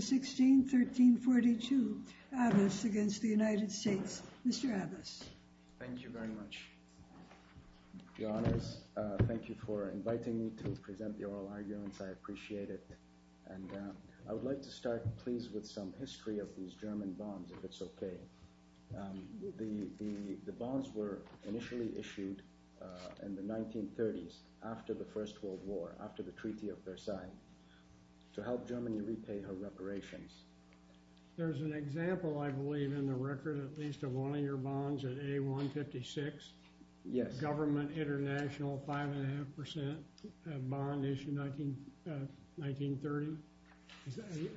1613.42 Abbas v. United States Mr. Abbas. Thank you very much. Your Honors, thank you for inviting me to present the oral arguments. I appreciate it. I would like to start please with some history of these German bonds, if it's okay. The bonds were initially issued in the 1930s, after the First World War, after the Treaty of Versailles, to help Germany repay her reparations. There's an example, I believe, in the record, at least, of one of your bonds at A156. Yes. Government International, 5.5% bond issued in 1930.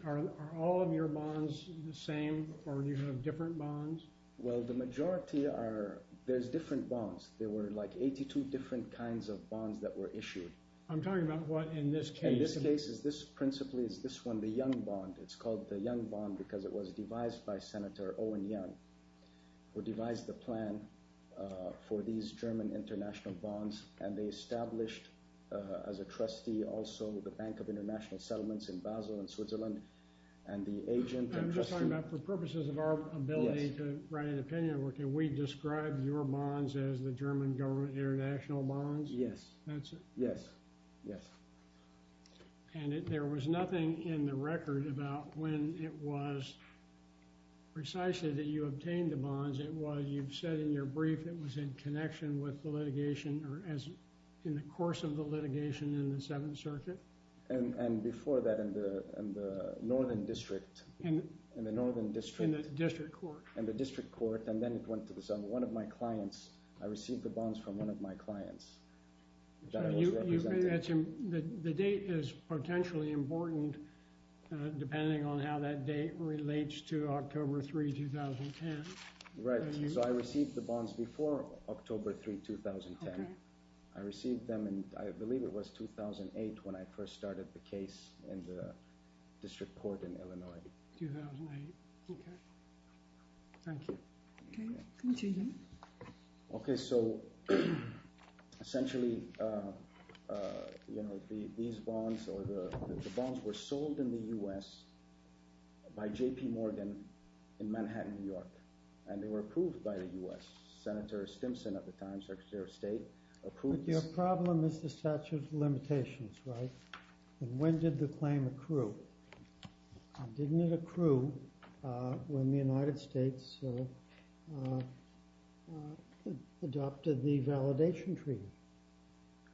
Are all of your bonds the same, or do you have different bonds? Well, the majority are, there's different bonds. There were like 82 different kinds of bonds that were issued. I'm talking about what in this case. In this case, this principally is this one, the Young bond. It's called the Young bond because it was devised by Senator Owen Young, who devised the plan for these German international bonds. And they established, as a trustee, also the Bank of International I'm just talking about, for purposes of our ability to write an opinion, can we describe your bonds as the German government international bonds? Yes. That's it. Yes. Yes. And there was nothing in the record about when it was precisely that you obtained the bonds. It was, you've said in your brief, it was in connection with the litigation, or as in the course of the litigation in the Seventh Circuit. And before that, in the Northern District. In the Northern District. In the District Court. In the District Court, and then it went to the South. One of my clients, I received the bonds from one of my clients. The date is potentially important, depending on how that date relates to October 3, 2010. Right. So I received the bonds before October 3, 2010. I received them in, I believe it was 2008 when I first started the case in the District Court in Illinois. 2008, okay. Thank you. Okay, continue. Okay, so essentially, you know, these bonds, or the bonds were sold in the U.S. by J.P. Morgan in Manhattan, New York. And they were approved by the U.S. Senator Stimson at the time, Secretary of State, approved this. But your problem is the statute of limitations, right? When did the claim accrue? And didn't it accrue when the United States adopted the validation treaty?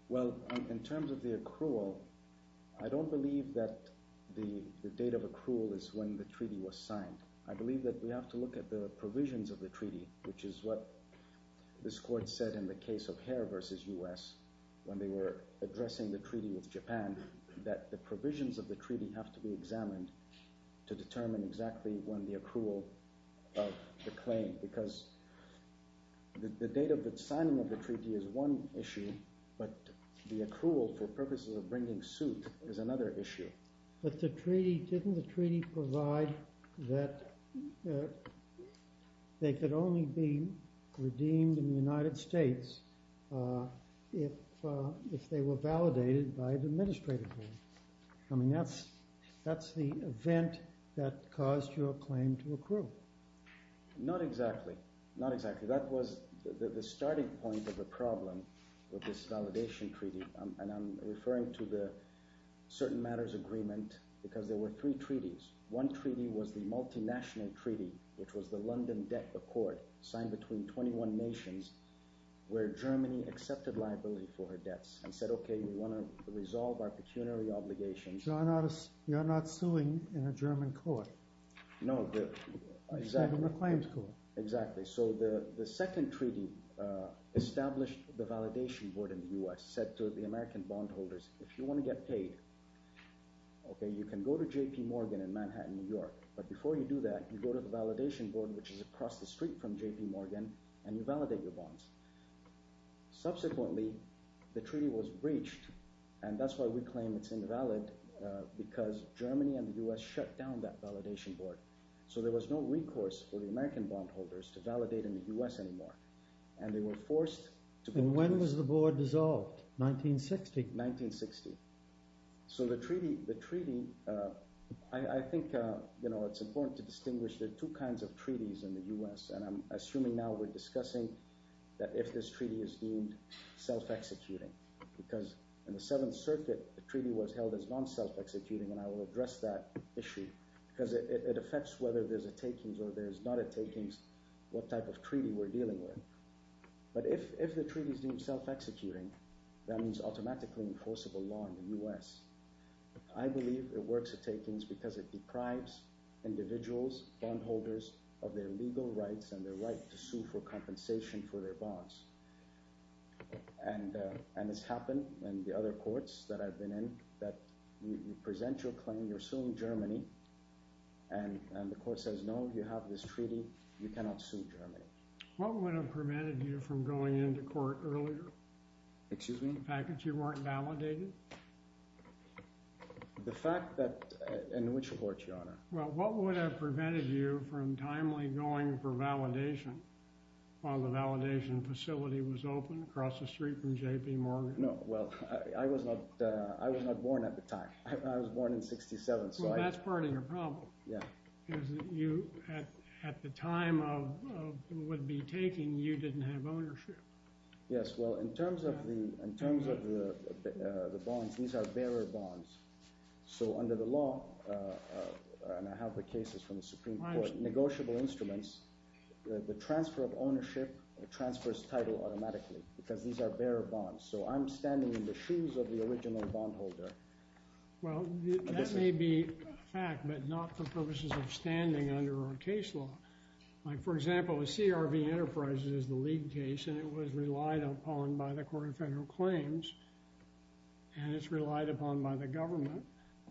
Well, in terms of the accrual, I don't believe that the date of accrual is when the treaty was signed. I believe that we have to look at the provisions of the treaty, which is what this Court said in the case of Hare versus U.S. when they were addressing the treaty with Japan, that the provisions of the treaty have to be examined to determine exactly when the accrual of the claim. Because the date of the signing of the treaty is one issue, but the accrual for purposes of bringing suit is another issue. But the treaty, didn't the treaty provide that they could only be redeemed in the United States if they were validated by the administrative board? I mean, that's the event that caused your claim to accrue. Not exactly, not exactly. That was the starting point of the problem with this validation treaty. And I'm referring to the certain matters agreement because there were three treaties. One treaty was the multinational treaty, which was the London Debt Accord signed between 21 nations where Germany accepted liability for her debts and said, okay, we want to resolve our pecuniary obligations. So you're not suing in a German court? No, exactly. In a claimed court. Exactly. So the second treaty established the validation board in the US, said to the American bondholders, if you want to get paid, okay, you can go to JP Morgan in Manhattan, New York. But before you do that, you go to the validation board, which is across the street from JP Morgan, and you validate your bonds. Subsequently, the treaty was breached. And that's why we claim it's invalid, because Germany and the US shut down that validation board. So there was no American bondholders to validate in the US anymore. And they were forced to... And when was the board dissolved? 1960. 1960. So the treaty, I think, you know, it's important to distinguish the two kinds of treaties in the US. And I'm assuming now we're discussing that if this treaty is deemed self-executing, because in the Seventh Circuit, the treaty was held as non-self-executing. And I what type of treaty we're dealing with. But if the treaty is deemed self-executing, that means automatically enforceable law in the US. I believe it works at takings because it deprives individuals, bondholders of their legal rights and their right to sue for compensation for their bonds. And it's happened in the other courts that I've been in, that you present your claim, you're suing Germany, and the court says, no, you have this treaty, you cannot sue Germany. What would have prevented you from going into court earlier? Excuse me? The fact that you weren't validated? The fact that... In which court, Your Honor? Well, what would have prevented you from timely going for validation while the validation facility was open across the street from J.P. Morgan? No, well, I was not born at the time. I was born in 67. Well, that's part of your problem. At the time of what would be taking, you didn't have ownership. Yes, well, in terms of the bonds, these are bearer bonds. So under the law, and I have the cases from the Supreme Court, negotiable instruments, the transfer of ownership transfers title automatically, because these are bearer bonds. So I'm standing in the shoes of the original bondholder. Well, that may be a fact, but not for purposes of standing under our case law. Like, for example, the CRV Enterprises is the lead case, and it was relied upon by the Court of Federal Claims, and it's relied upon by the government,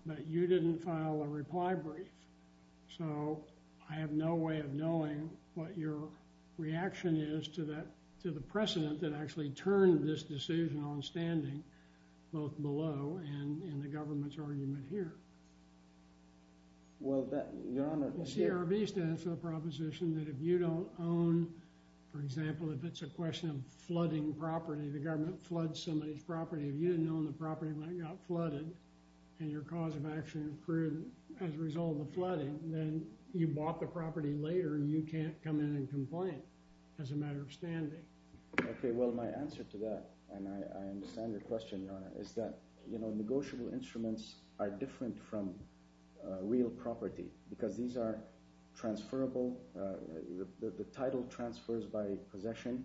but you didn't file a reply brief. So I have no way of knowing what your reaction is to that, to the precedent that actually turned this decision on standing, both below and in the government's argument here. Well, that, Your Honor, CRV stands for the proposition that if you don't own, for example, if it's a question of flooding property, the government floods somebody's property. If you didn't own the property when it got flooded, and your cause of action accrued as a result of the flooding, then you bought the property later. You can't come in and complain as a matter of standing. Okay, well, my answer to that, and I understand your question, Your Honor, is that, you know, negotiable instruments are different from real property, because these are transferable. The title transfers by possession.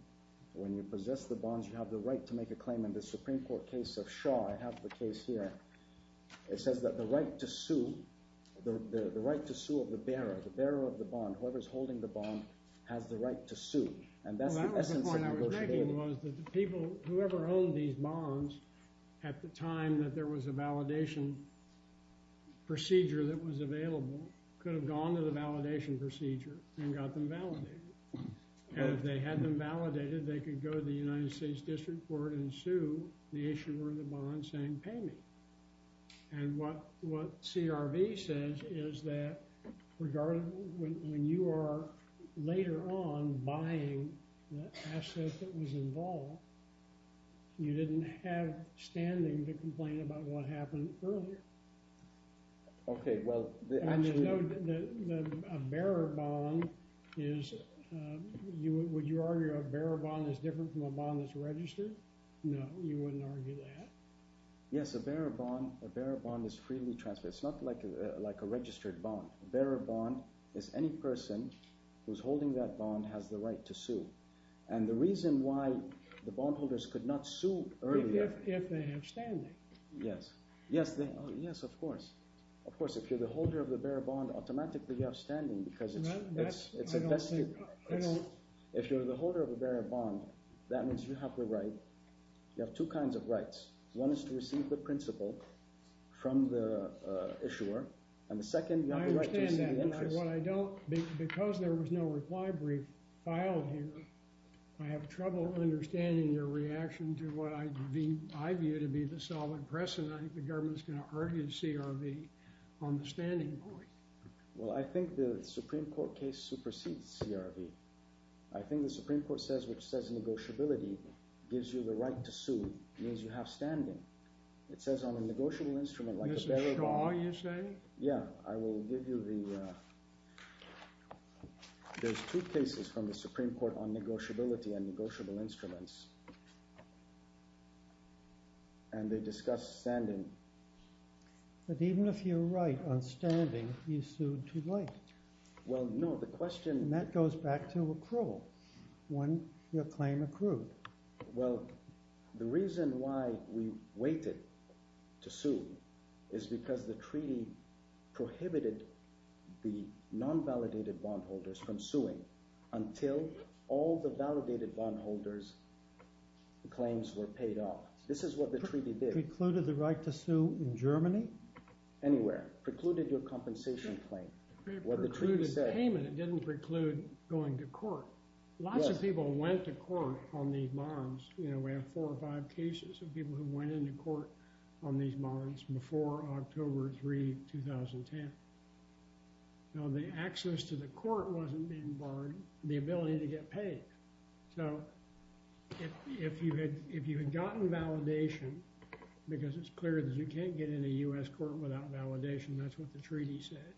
When you possess the bonds, you have the right to make a claim. In the Supreme Court case of Shaw, I have the case here, it says that the right to sue, the right to sue of the bearer, the bearer of the bond, whoever's holding the bond, has the right to sue. And that's the essence of negotiating. Well, that was the point I was making, was that the people, whoever owned these bonds at the time that there was a validation procedure that was available could have gone to the validation procedure and got them validated. And if they had them validated, they could go to the United States District Court and sue the issuer of the bond saying, pay me. And what CRV says is that, regardless, when you are later on buying the asset that was involved, you didn't have standing to complain about what happened earlier. Okay, well, the actually— Would you argue a bearer bond is different from a bond that's registered? No, you wouldn't argue that. Yes, a bearer bond is freely transferred. It's not like a registered bond. A bearer bond is any person who's holding that bond has the right to sue. And the reason why the bondholders could not sue earlier— If they have standing. Yes, yes, of course. Of course, if you're the holder of the bearer bond, automatically you have standing because it's— I don't— If you're the holder of a bearer bond, that means you have the right. You have two kinds of rights. One is to receive the principal from the issuer. And the second, you have the right to receive the interest. I understand that, but what I don't— Because there was no reply brief filed here, I have trouble understanding your reaction to what I view to be the solid precedent I think the government's going to argue CRV on the standing point. Well, I think the Supreme Court case supersedes CRV. I think the Supreme Court says, which says negotiability gives you the right to sue, means you have standing. It says on a negotiable instrument like a bearer bond— Mr. Shaw, you say? Yeah, I will give you the— There's two cases from the Supreme Court on negotiability and negotiable instruments. And they discuss standing. But even if you're right on standing, you sued too late. Well, no, the question— And that goes back to accrual, when your claim accrued. Well, the reason why we waited to sue is because the treaty prohibited the non-validated bondholders from suing until all the validated bondholders' claims were paid off. This is what the treaty did. Precluded the right to sue in Germany? Anywhere. Precluded your compensation claim. What the treaty said— It precluded payment. It didn't preclude going to court. Lots of people went to court on these bonds. You know, we have four or five cases of people who went into court on these bonds before October 3, 2010. Now, the access to the court wasn't being barred. The ability to get paid. So if you had gotten validation, because it's clear that you can't get in a U.S. court without validation, that's what the treaty said.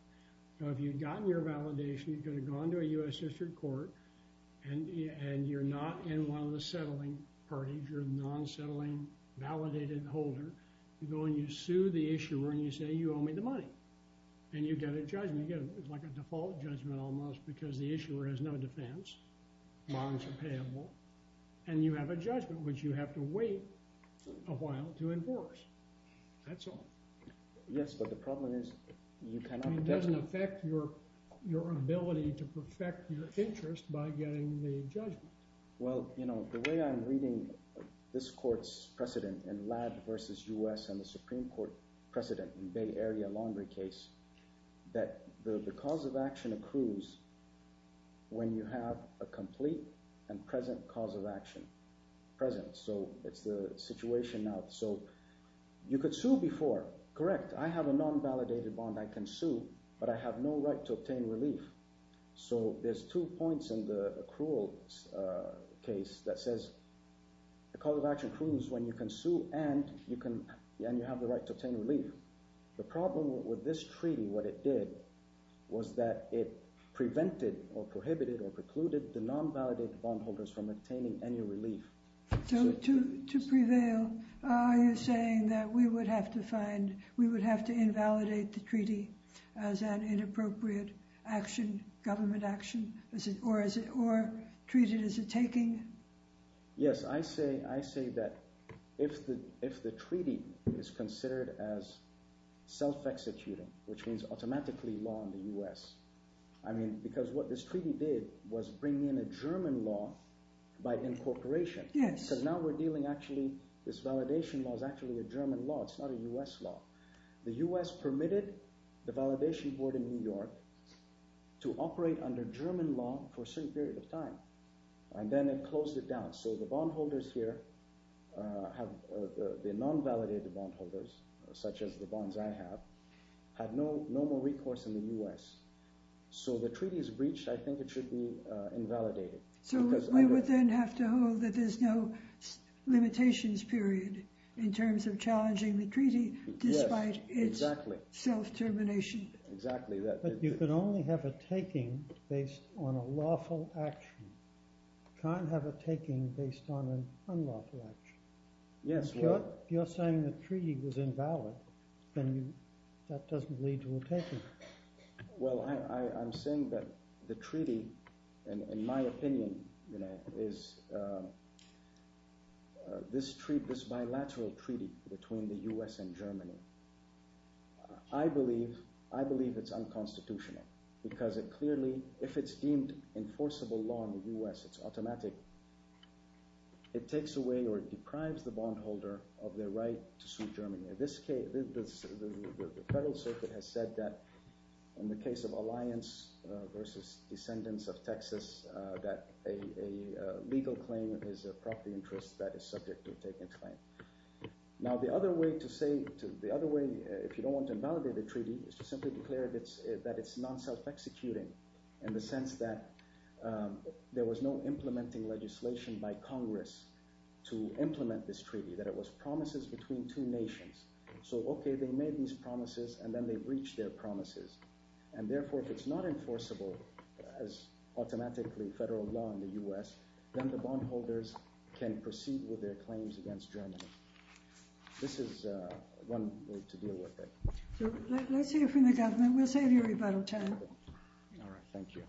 So if you'd gotten your validation, you could have gone to a U.S. district court, and you're not in one of the settling parties. You're a non-settling validated holder. You go and you sue the issuer, and you say, you owe me the money. And you get a judgment. You get like a default judgment, almost, because the issuer has no defense. Bonds are payable, and you have a judgment, which you have to wait a while to enforce. That's all. Yes, but the problem is, you cannot- It doesn't affect your ability to perfect your interest by getting the judgment. Well, you know, the way I'm reading this court's precedent in Ladd versus U.S. and the Supreme Court precedent in Bay Area Laundry case, that the cause of action accrues when you have a complete and present cause of action. Present, so it's the situation now. So you could sue before. Correct, I have a non-validated bond. I can sue, but I have no right to obtain relief. So there's two points in the accrual case that says the cause of action accrues when you can sue and you have the right to obtain relief. The problem with this treaty, what it did, was that it prevented or prohibited or precluded the non-validated bondholders from obtaining any relief. So to prevail, are you saying that we would have to find, we would have to invalidate the treaty as an inappropriate action, government action, or treat it as a taking? Yes, I say that if the treaty is considered as self-executing, which means automatically law in the U.S. I mean, because what this treaty did was bring in a German law by incorporation. Yes. Because now we're dealing, actually, this validation law is actually a German law. It's not a U.S. law. The U.S. permitted the validation board in New York to operate under German law for a certain period of time. And then it closed it down. So the bondholders here, have the non-validated bondholders, such as the bonds I have, have no more recourse in the U.S. So the treaty is breached. I think it should be invalidated. So we would then have to hold that there's no limitations, period, in terms of challenging the treaty despite its self-termination. Exactly. But you could only have a taking based on a lawful action. You can't have a taking based on an unlawful action. Yes, well... You're saying the treaty was invalid. Then that doesn't lead to a taking. Well, I'm saying that the treaty, in my opinion, is this bilateral treaty between the U.S. and Germany. I believe it's unconstitutional because it clearly, if it's deemed enforceable law in the U.S., it's automatic. It takes away or deprives the bondholder of their right to sue Germany. The Federal Circuit has said that in the case of alliance versus descendants of Texas, that a legal claim is a property interest that is subject to a taking claim. Now, the other way to say, the other way, if you don't want to invalidate the treaty, is to simply declare that it's non-self-executing in the sense that there was no implementing legislation by Congress to implement this treaty, that it was promises between two nations. So, okay, they made these promises, and then they breached their promises. And therefore, if it's not enforceable as automatically federal law in the U.S., then the bondholders can proceed with their claims against Germany. This is one way to deal with it. Let's hear from the government. We'll save you a rebuttal time. All right, thank you.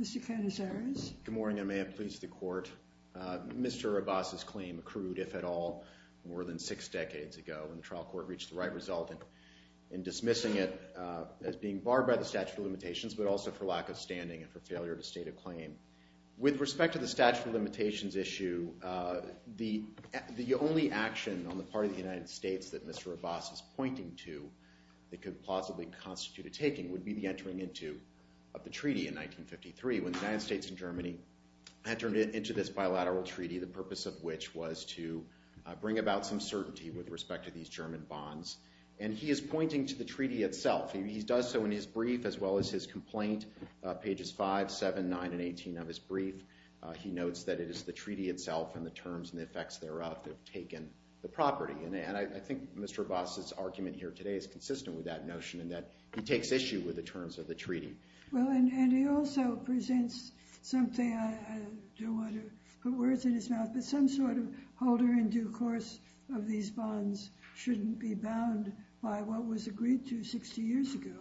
Mr. Canizares. Good morning, and may it please the Court. Mr. Abbas's claim accrued, if at all, more than six decades ago when the trial court reached the right result in dismissing it as being barred by the statute of limitations, but also for lack of standing and for failure to state a claim. With respect to the statute of limitations issue, the only action on the part of the United States that Mr. Abbas is pointing to that could plausibly constitute a taking would be the entering into of the treaty in 1953, when the United States and Germany entered into this bilateral treaty, the purpose of which was to bring about some certainty with respect to these German bonds. And he is pointing to the treaty itself. He does so in his brief, as well as his complaint, pages 5, 7, 9, and 18 of his brief. He notes that it is the treaty itself and the terms and the effects thereof that have taken the property. And I think Mr. Abbas's argument here today is consistent with that notion, in that he takes issue with the terms of the treaty. Well, and he also presents something, I don't want to put words in his mouth, but some sort of holder in due course of these bonds shouldn't be bound by what was agreed to 60 years ago.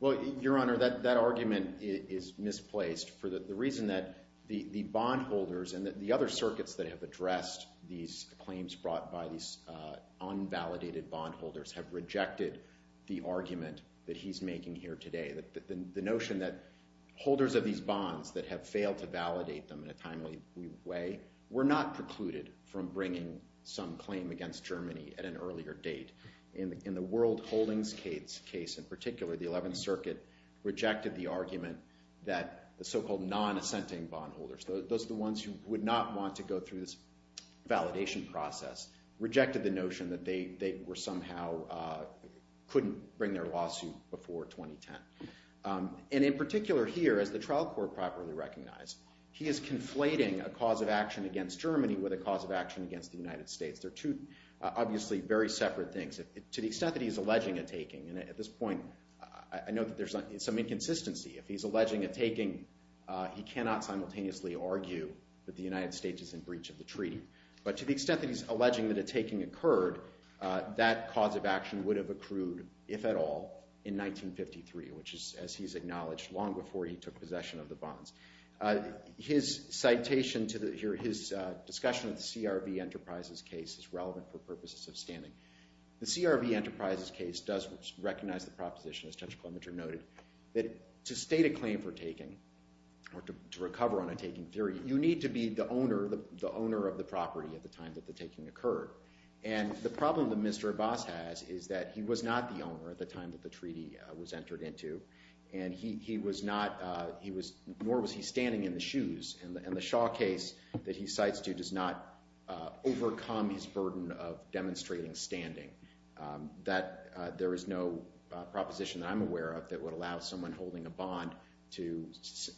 Well, Your Honor, that argument is misplaced for the reason that the bondholders and the other circuits that have addressed these claims brought by these unvalidated bondholders have rejected the argument that he's making here today, the notion that holders of these bonds that have failed to validate them in a timely way were not precluded from bringing some claim against Germany at an earlier date. In the World Holdings case in particular, the 11th Circuit rejected the argument that the so-called non-assenting bondholders, those are the ones who would not want to go through this validation process, rejected the notion that they were somehow, couldn't bring their lawsuit before 2010. And in particular here, as the trial court properly recognized, he is conflating a cause of action against Germany with a cause of action against the United States. They're two obviously very separate things. To the extent that he's alleging a taking, and at this point, I know that there's some inconsistency. If he's alleging a taking, he cannot simultaneously argue that the United States is in breach of the treaty. But to the extent that he's alleging that a taking occurred, that cause of action would have accrued, if at all, in 1953, which is, as he's acknowledged, long before he took possession of the bonds. His citation to the, here, his discussion of the CRV Enterprises case is relevant for purposes of standing. The CRV Enterprises case does recognize the proposition, as Judge Clementer noted, that to state a claim for taking, or to recover on a taking theory, you need to be the owner of the property at the time that the taking occurred. And the problem that Mr. Abbas has is that he was not the owner at the time that the treaty was entered into. And he was not, nor was he standing in the shoes. And the Shaw case that he cites to does not overcome his burden of demonstrating standing. There is no proposition that I'm aware of that would allow someone holding a bond to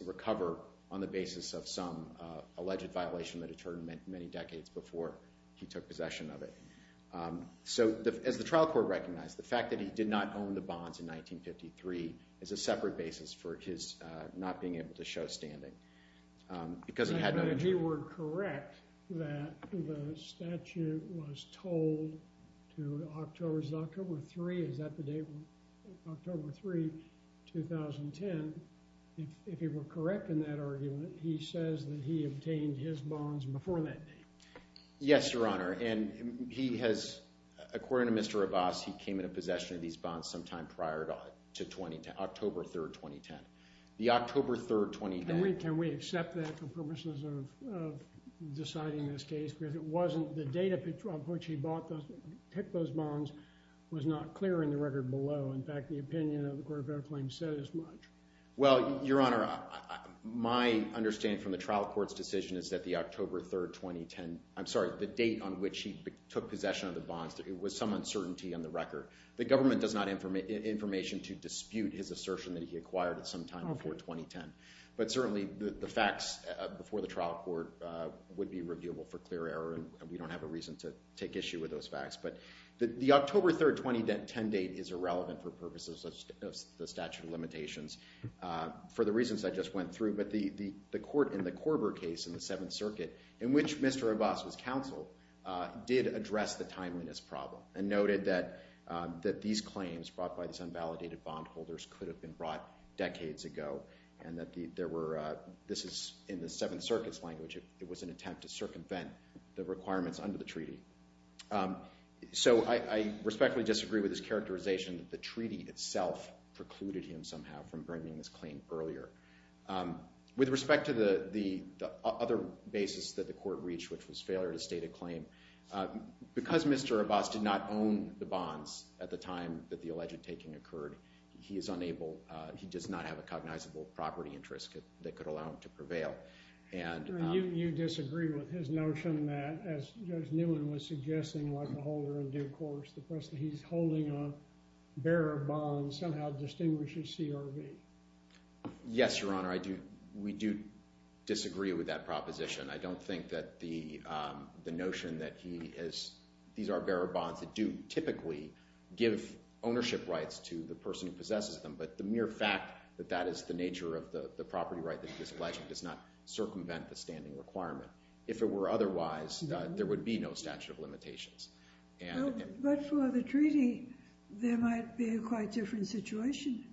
recover on the basis of some alleged violation that occurred many decades before he took possession of it. So, as the trial court recognized, the fact that he did not own the bonds in 1953 is a separate basis for his not being able to show standing. Because he had no... If you were correct, that the statute was told to October, is it October 3rd? Is that the date? October 3rd, 2010. If you were correct in that argument, he says that he obtained his bonds before that date. Yes, Your Honor. And he has... According to Mr. Abbas, he came into possession of these bonds sometime prior to October 3rd, 2010. The October 3rd, 2010... Can we accept that for purposes of deciding this case? Because it wasn't... The date on which he bought those, picked those bonds, was not clear in the record below. In fact, the opinion of the Court of Fair Claims said as much. Well, Your Honor, my understanding from the trial court's decision is that the October 3rd, 2010... I'm sorry, the date on which he took possession of the bonds, it was some uncertainty on the record. The government does not have information to dispute his assertion that he acquired it sometime before 2010. But certainly the facts before the trial court would be reviewable for clear error and we don't have a reason to take issue with those facts. But the October 3rd, 2010 date is irrelevant for purposes of the statute of limitations for the reasons I just went through. But the court in the Korber case in the Seventh Circuit, in which Mr. Abbas was counseled, did address the timeliness problem and noted that these claims brought by these unvalidated bondholders could have been brought decades ago and that there were... This is in the Seventh Circuit's language. It was an attempt to circumvent the requirements under the treaty. So I respectfully disagree with this characterization that the treaty itself precluded him somehow from bringing this claim earlier. With respect to the other basis that the court reached, which was failure to state a claim, because Mr. Abbas did not own the bonds at the time that the alleged taking occurred, he is unable... He does not have a cognizable property interest that could allow him to prevail. And... And you disagree with his notion that, as Judge Newman was suggesting, like a holder of due course, the person he's holding a bearer of bonds somehow distinguishes CRV. Yes, Your Honor. I do... We do disagree with that proposition. I don't think that the notion that he has... These are bearer bonds that do typically give ownership rights to the person who possesses them. But the mere fact that that is the nature of the property right that he is pledging does not circumvent the standing requirement. If it were otherwise, there would be no statute of limitations. And... But for the treaty, there might be a quite different situation.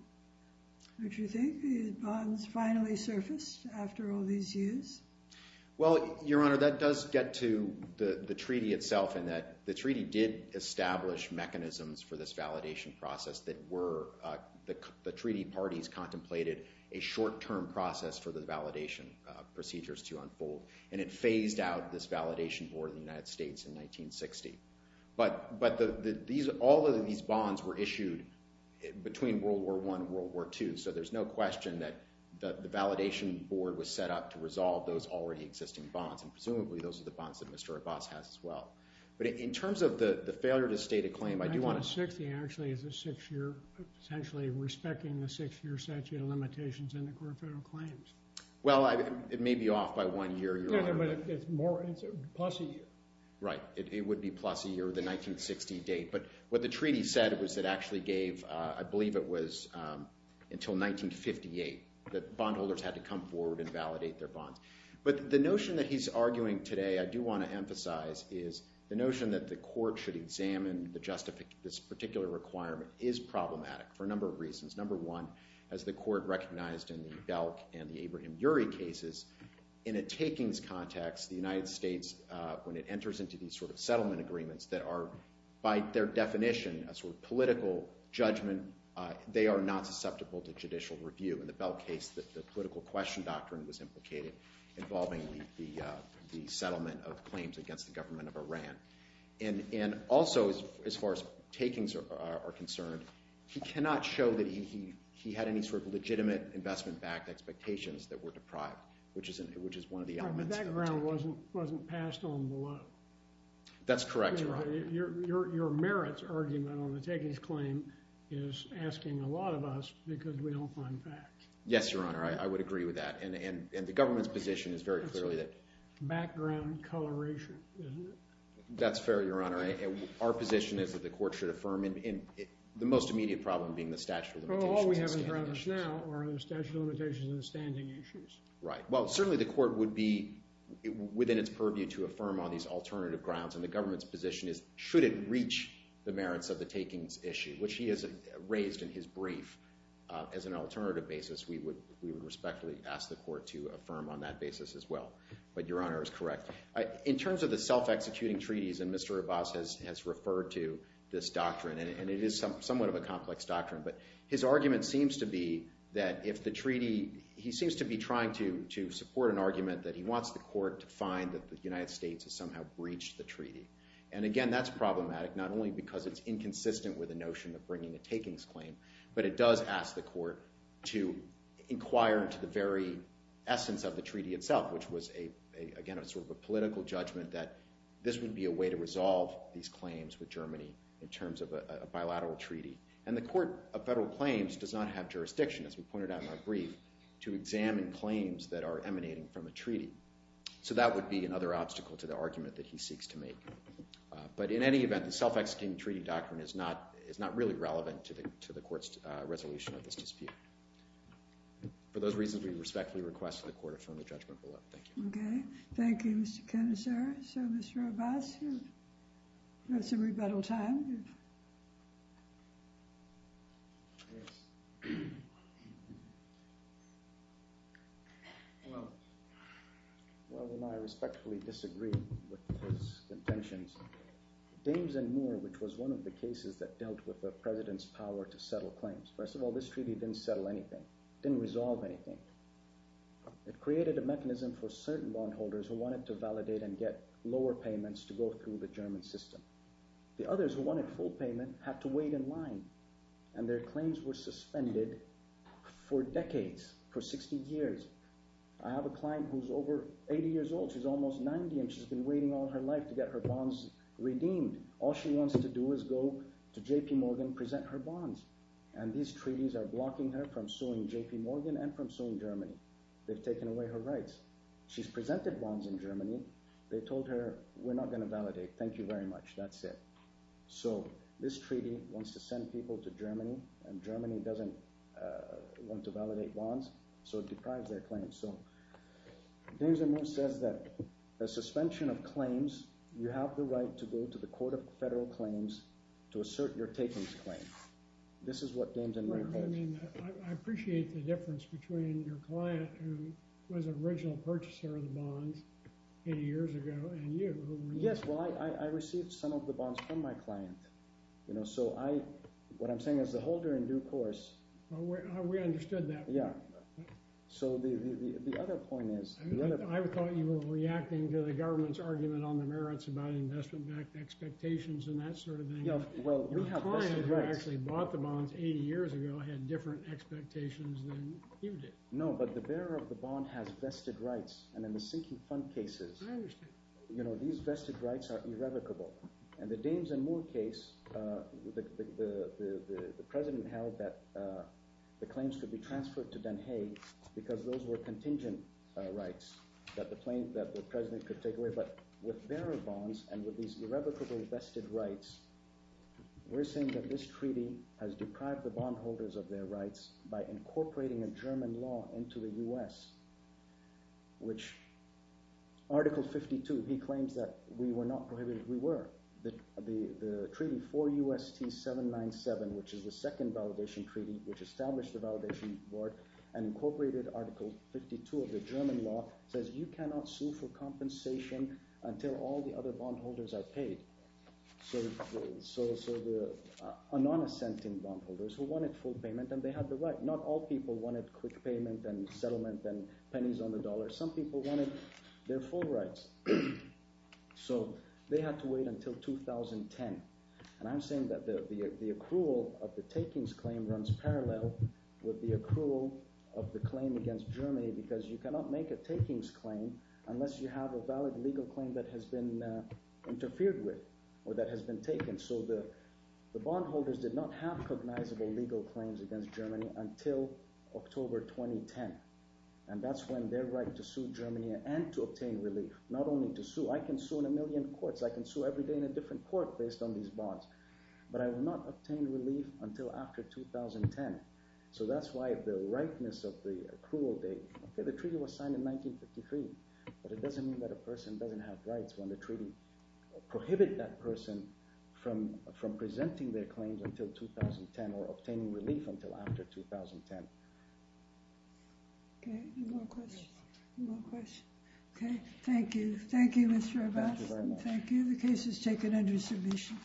Don't you think these bonds finally surfaced after all these years? Well, Your Honor, that does get to the treaty itself in that the treaty did establish mechanisms for this validation process that were... The treaty parties contemplated a short-term process for the validation procedures to unfold. And it phased out this validation for the United States in 1960. But... But these... All of these bonds were issued between World War I and World War II. So there's no question that the validation board was set up to resolve those already existing bonds. And presumably, those are the bonds that Mr. Abbas has as well. But in terms of the failure to state a claim, I do want to... 1960 actually is a six-year... Potentially respecting the six-year statute of limitations in the Court of Federal Claims. Well, it may be off by one year, Your Honor. But it's more... It's plus a year. Right. It would be plus a year, the 1960 date. But what the treaty said was it actually gave... I believe it was until 1958 that bondholders had to come forward and validate their bonds. But the notion that he's arguing today, I do want to emphasize, is the notion that the court should examine the justification... This particular requirement is problematic for a number of reasons. Number one, as the court recognized in the Belk and the Abraham-Urey cases, in a takings context, the United States, when it enters into these sort of settlement agreements that are, by their definition, a sort of political judgment, they are not susceptible to judicial review. In the Belk case, the political question doctrine was implicated involving the settlement of claims against the government of Iran. And also, as far as takings are concerned, he cannot show that he had any sort of legitimate investment-backed expectations that were deprived, But that ground wasn't passed on below. That's correct, Your Honor. Your merits argument on the takings claim is asking a lot of us because we don't find facts. Yes, Your Honor. I would agree with that. And the government's position is very clearly that... Background coloration, isn't it? That's fair, Your Honor. Our position is that the court should affirm, the most immediate problem being the statute of limitations. All we have in front of us now are the statute of limitations and the standing issues. Right. Well, certainly the court would be within its purview to affirm on these alternative grounds. And the government's position is, should it reach the merits of the takings issue, which he has raised in his brief as an alternative basis, we would respectfully ask the court to affirm on that basis as well. But Your Honor is correct. In terms of the self-executing treaties, and Mr. Abbas has referred to this doctrine, and it is somewhat of a complex doctrine, but his argument seems to be that if the treaty... He seems to be trying to support an argument that he wants the court to find that the United States has somehow breached the treaty. And again, that's problematic, not only because it's inconsistent with the notion of bringing a takings claim, but it does ask the court to inquire into the very essence of the treaty itself, which was, again, a sort of a political judgment that this would be a way to resolve these claims with Germany in terms of a bilateral treaty. And the court of federal claims does not have jurisdiction, as we pointed out in our brief, to examine claims that are emanating from a treaty. So that would be another obstacle to the argument that he seeks to make. But in any event, the self-executing treaty doctrine is not really relevant to the court's resolution of this dispute. For those reasons, we respectfully request that the court affirm the judgment below. Thank you. Okay. Thank you, Mr. Canisar. So, Mr. Abbas, that's a rebuttal time. Yes. Well, I respectfully disagree with his contentions. Dames and Moore, which was one of the cases that dealt with the president's power to settle claims. First of all, this treaty didn't settle anything, didn't resolve anything. It created a mechanism for certain bondholders who wanted to validate and get lower payments to go through the German system. The others who wanted full payment had to wait in line and their claims were suspended for decades, for 60 years. I have a client who's over 80 years old. She's almost 90 and she's been waiting all her life to get her bonds redeemed. All she wants to do is go to J.P. Morgan, present her bonds. And these treaties are blocking her from suing J.P. Morgan and from suing Germany. They've taken away her rights. She's presented bonds in Germany. They told her, we're not going to validate. Thank you very much. That's it. So, this treaty wants to send people to Germany and Germany doesn't want to validate bonds. So, it deprives their claims. So, Dames and Moons says that the suspension of claims, you have the right to go to the Court of Federal Claims to assert your takings claim. This is what Dames and Moons says. I mean, I appreciate the difference between your client who was an original purchaser of the bonds 80 years ago and you. Yes, well, I received some of the bonds from my client. You know, so I, what I'm saying is the holder in due course. We understood that. Yeah. So, the other point is. I thought you were reacting to the government's argument on the merits about investment-backed expectations and that sort of thing. Yeah, well. Your client who actually bought the bonds 80 years ago had different expectations than you did. No, but the bearer of the bond has vested rights. And in the sinking fund cases. I understand. You know, these vested rights are irrevocable. And the Dames and Moon case, the president held that the claims could be transferred to Den Haag because those were contingent rights that the president could take away. But with bearer bonds and with these irrevocable vested rights, we're saying that this treaty has deprived the bondholders of their rights by incorporating a German law into the U.S. Which, Article 52, he claims that we were not prohibited. We were. The treaty 4 U.S.T. 797, which is the second validation treaty, which established the validation work and incorporated Article 52 of the German law, says you cannot sue for compensation until all the other bondholders are paid. So, the non-assenting bondholders who wanted full payment, and they had the right. Not all people wanted quick payment and settlement and pennies on the dollar. Some people wanted their full rights. So, they had to wait until 2010. And I'm saying that the accrual of the takings claim runs parallel with the accrual of the claim against Germany because you cannot make a takings claim unless you have a valid legal claim that has been interfered with, or that has been taken. So, the bondholders did not have cognizable legal claims against Germany until October 2010. And that's when their right to sue Germany and to obtain relief, not only to sue. I can sue in a million courts. I can sue every day in a different court based on these bonds. But I will not obtain relief until after 2010. So, that's why the rightness of the accrual date. Okay, the treaty was signed in 1953, but it doesn't mean that a person doesn't have rights when the treaty prohibit that person from presenting their claims until 2010 or obtaining relief until after 2010. Okay, no more questions. Okay, thank you. Thank you, Mr. Abbas. Thank you. The case is taken under submission.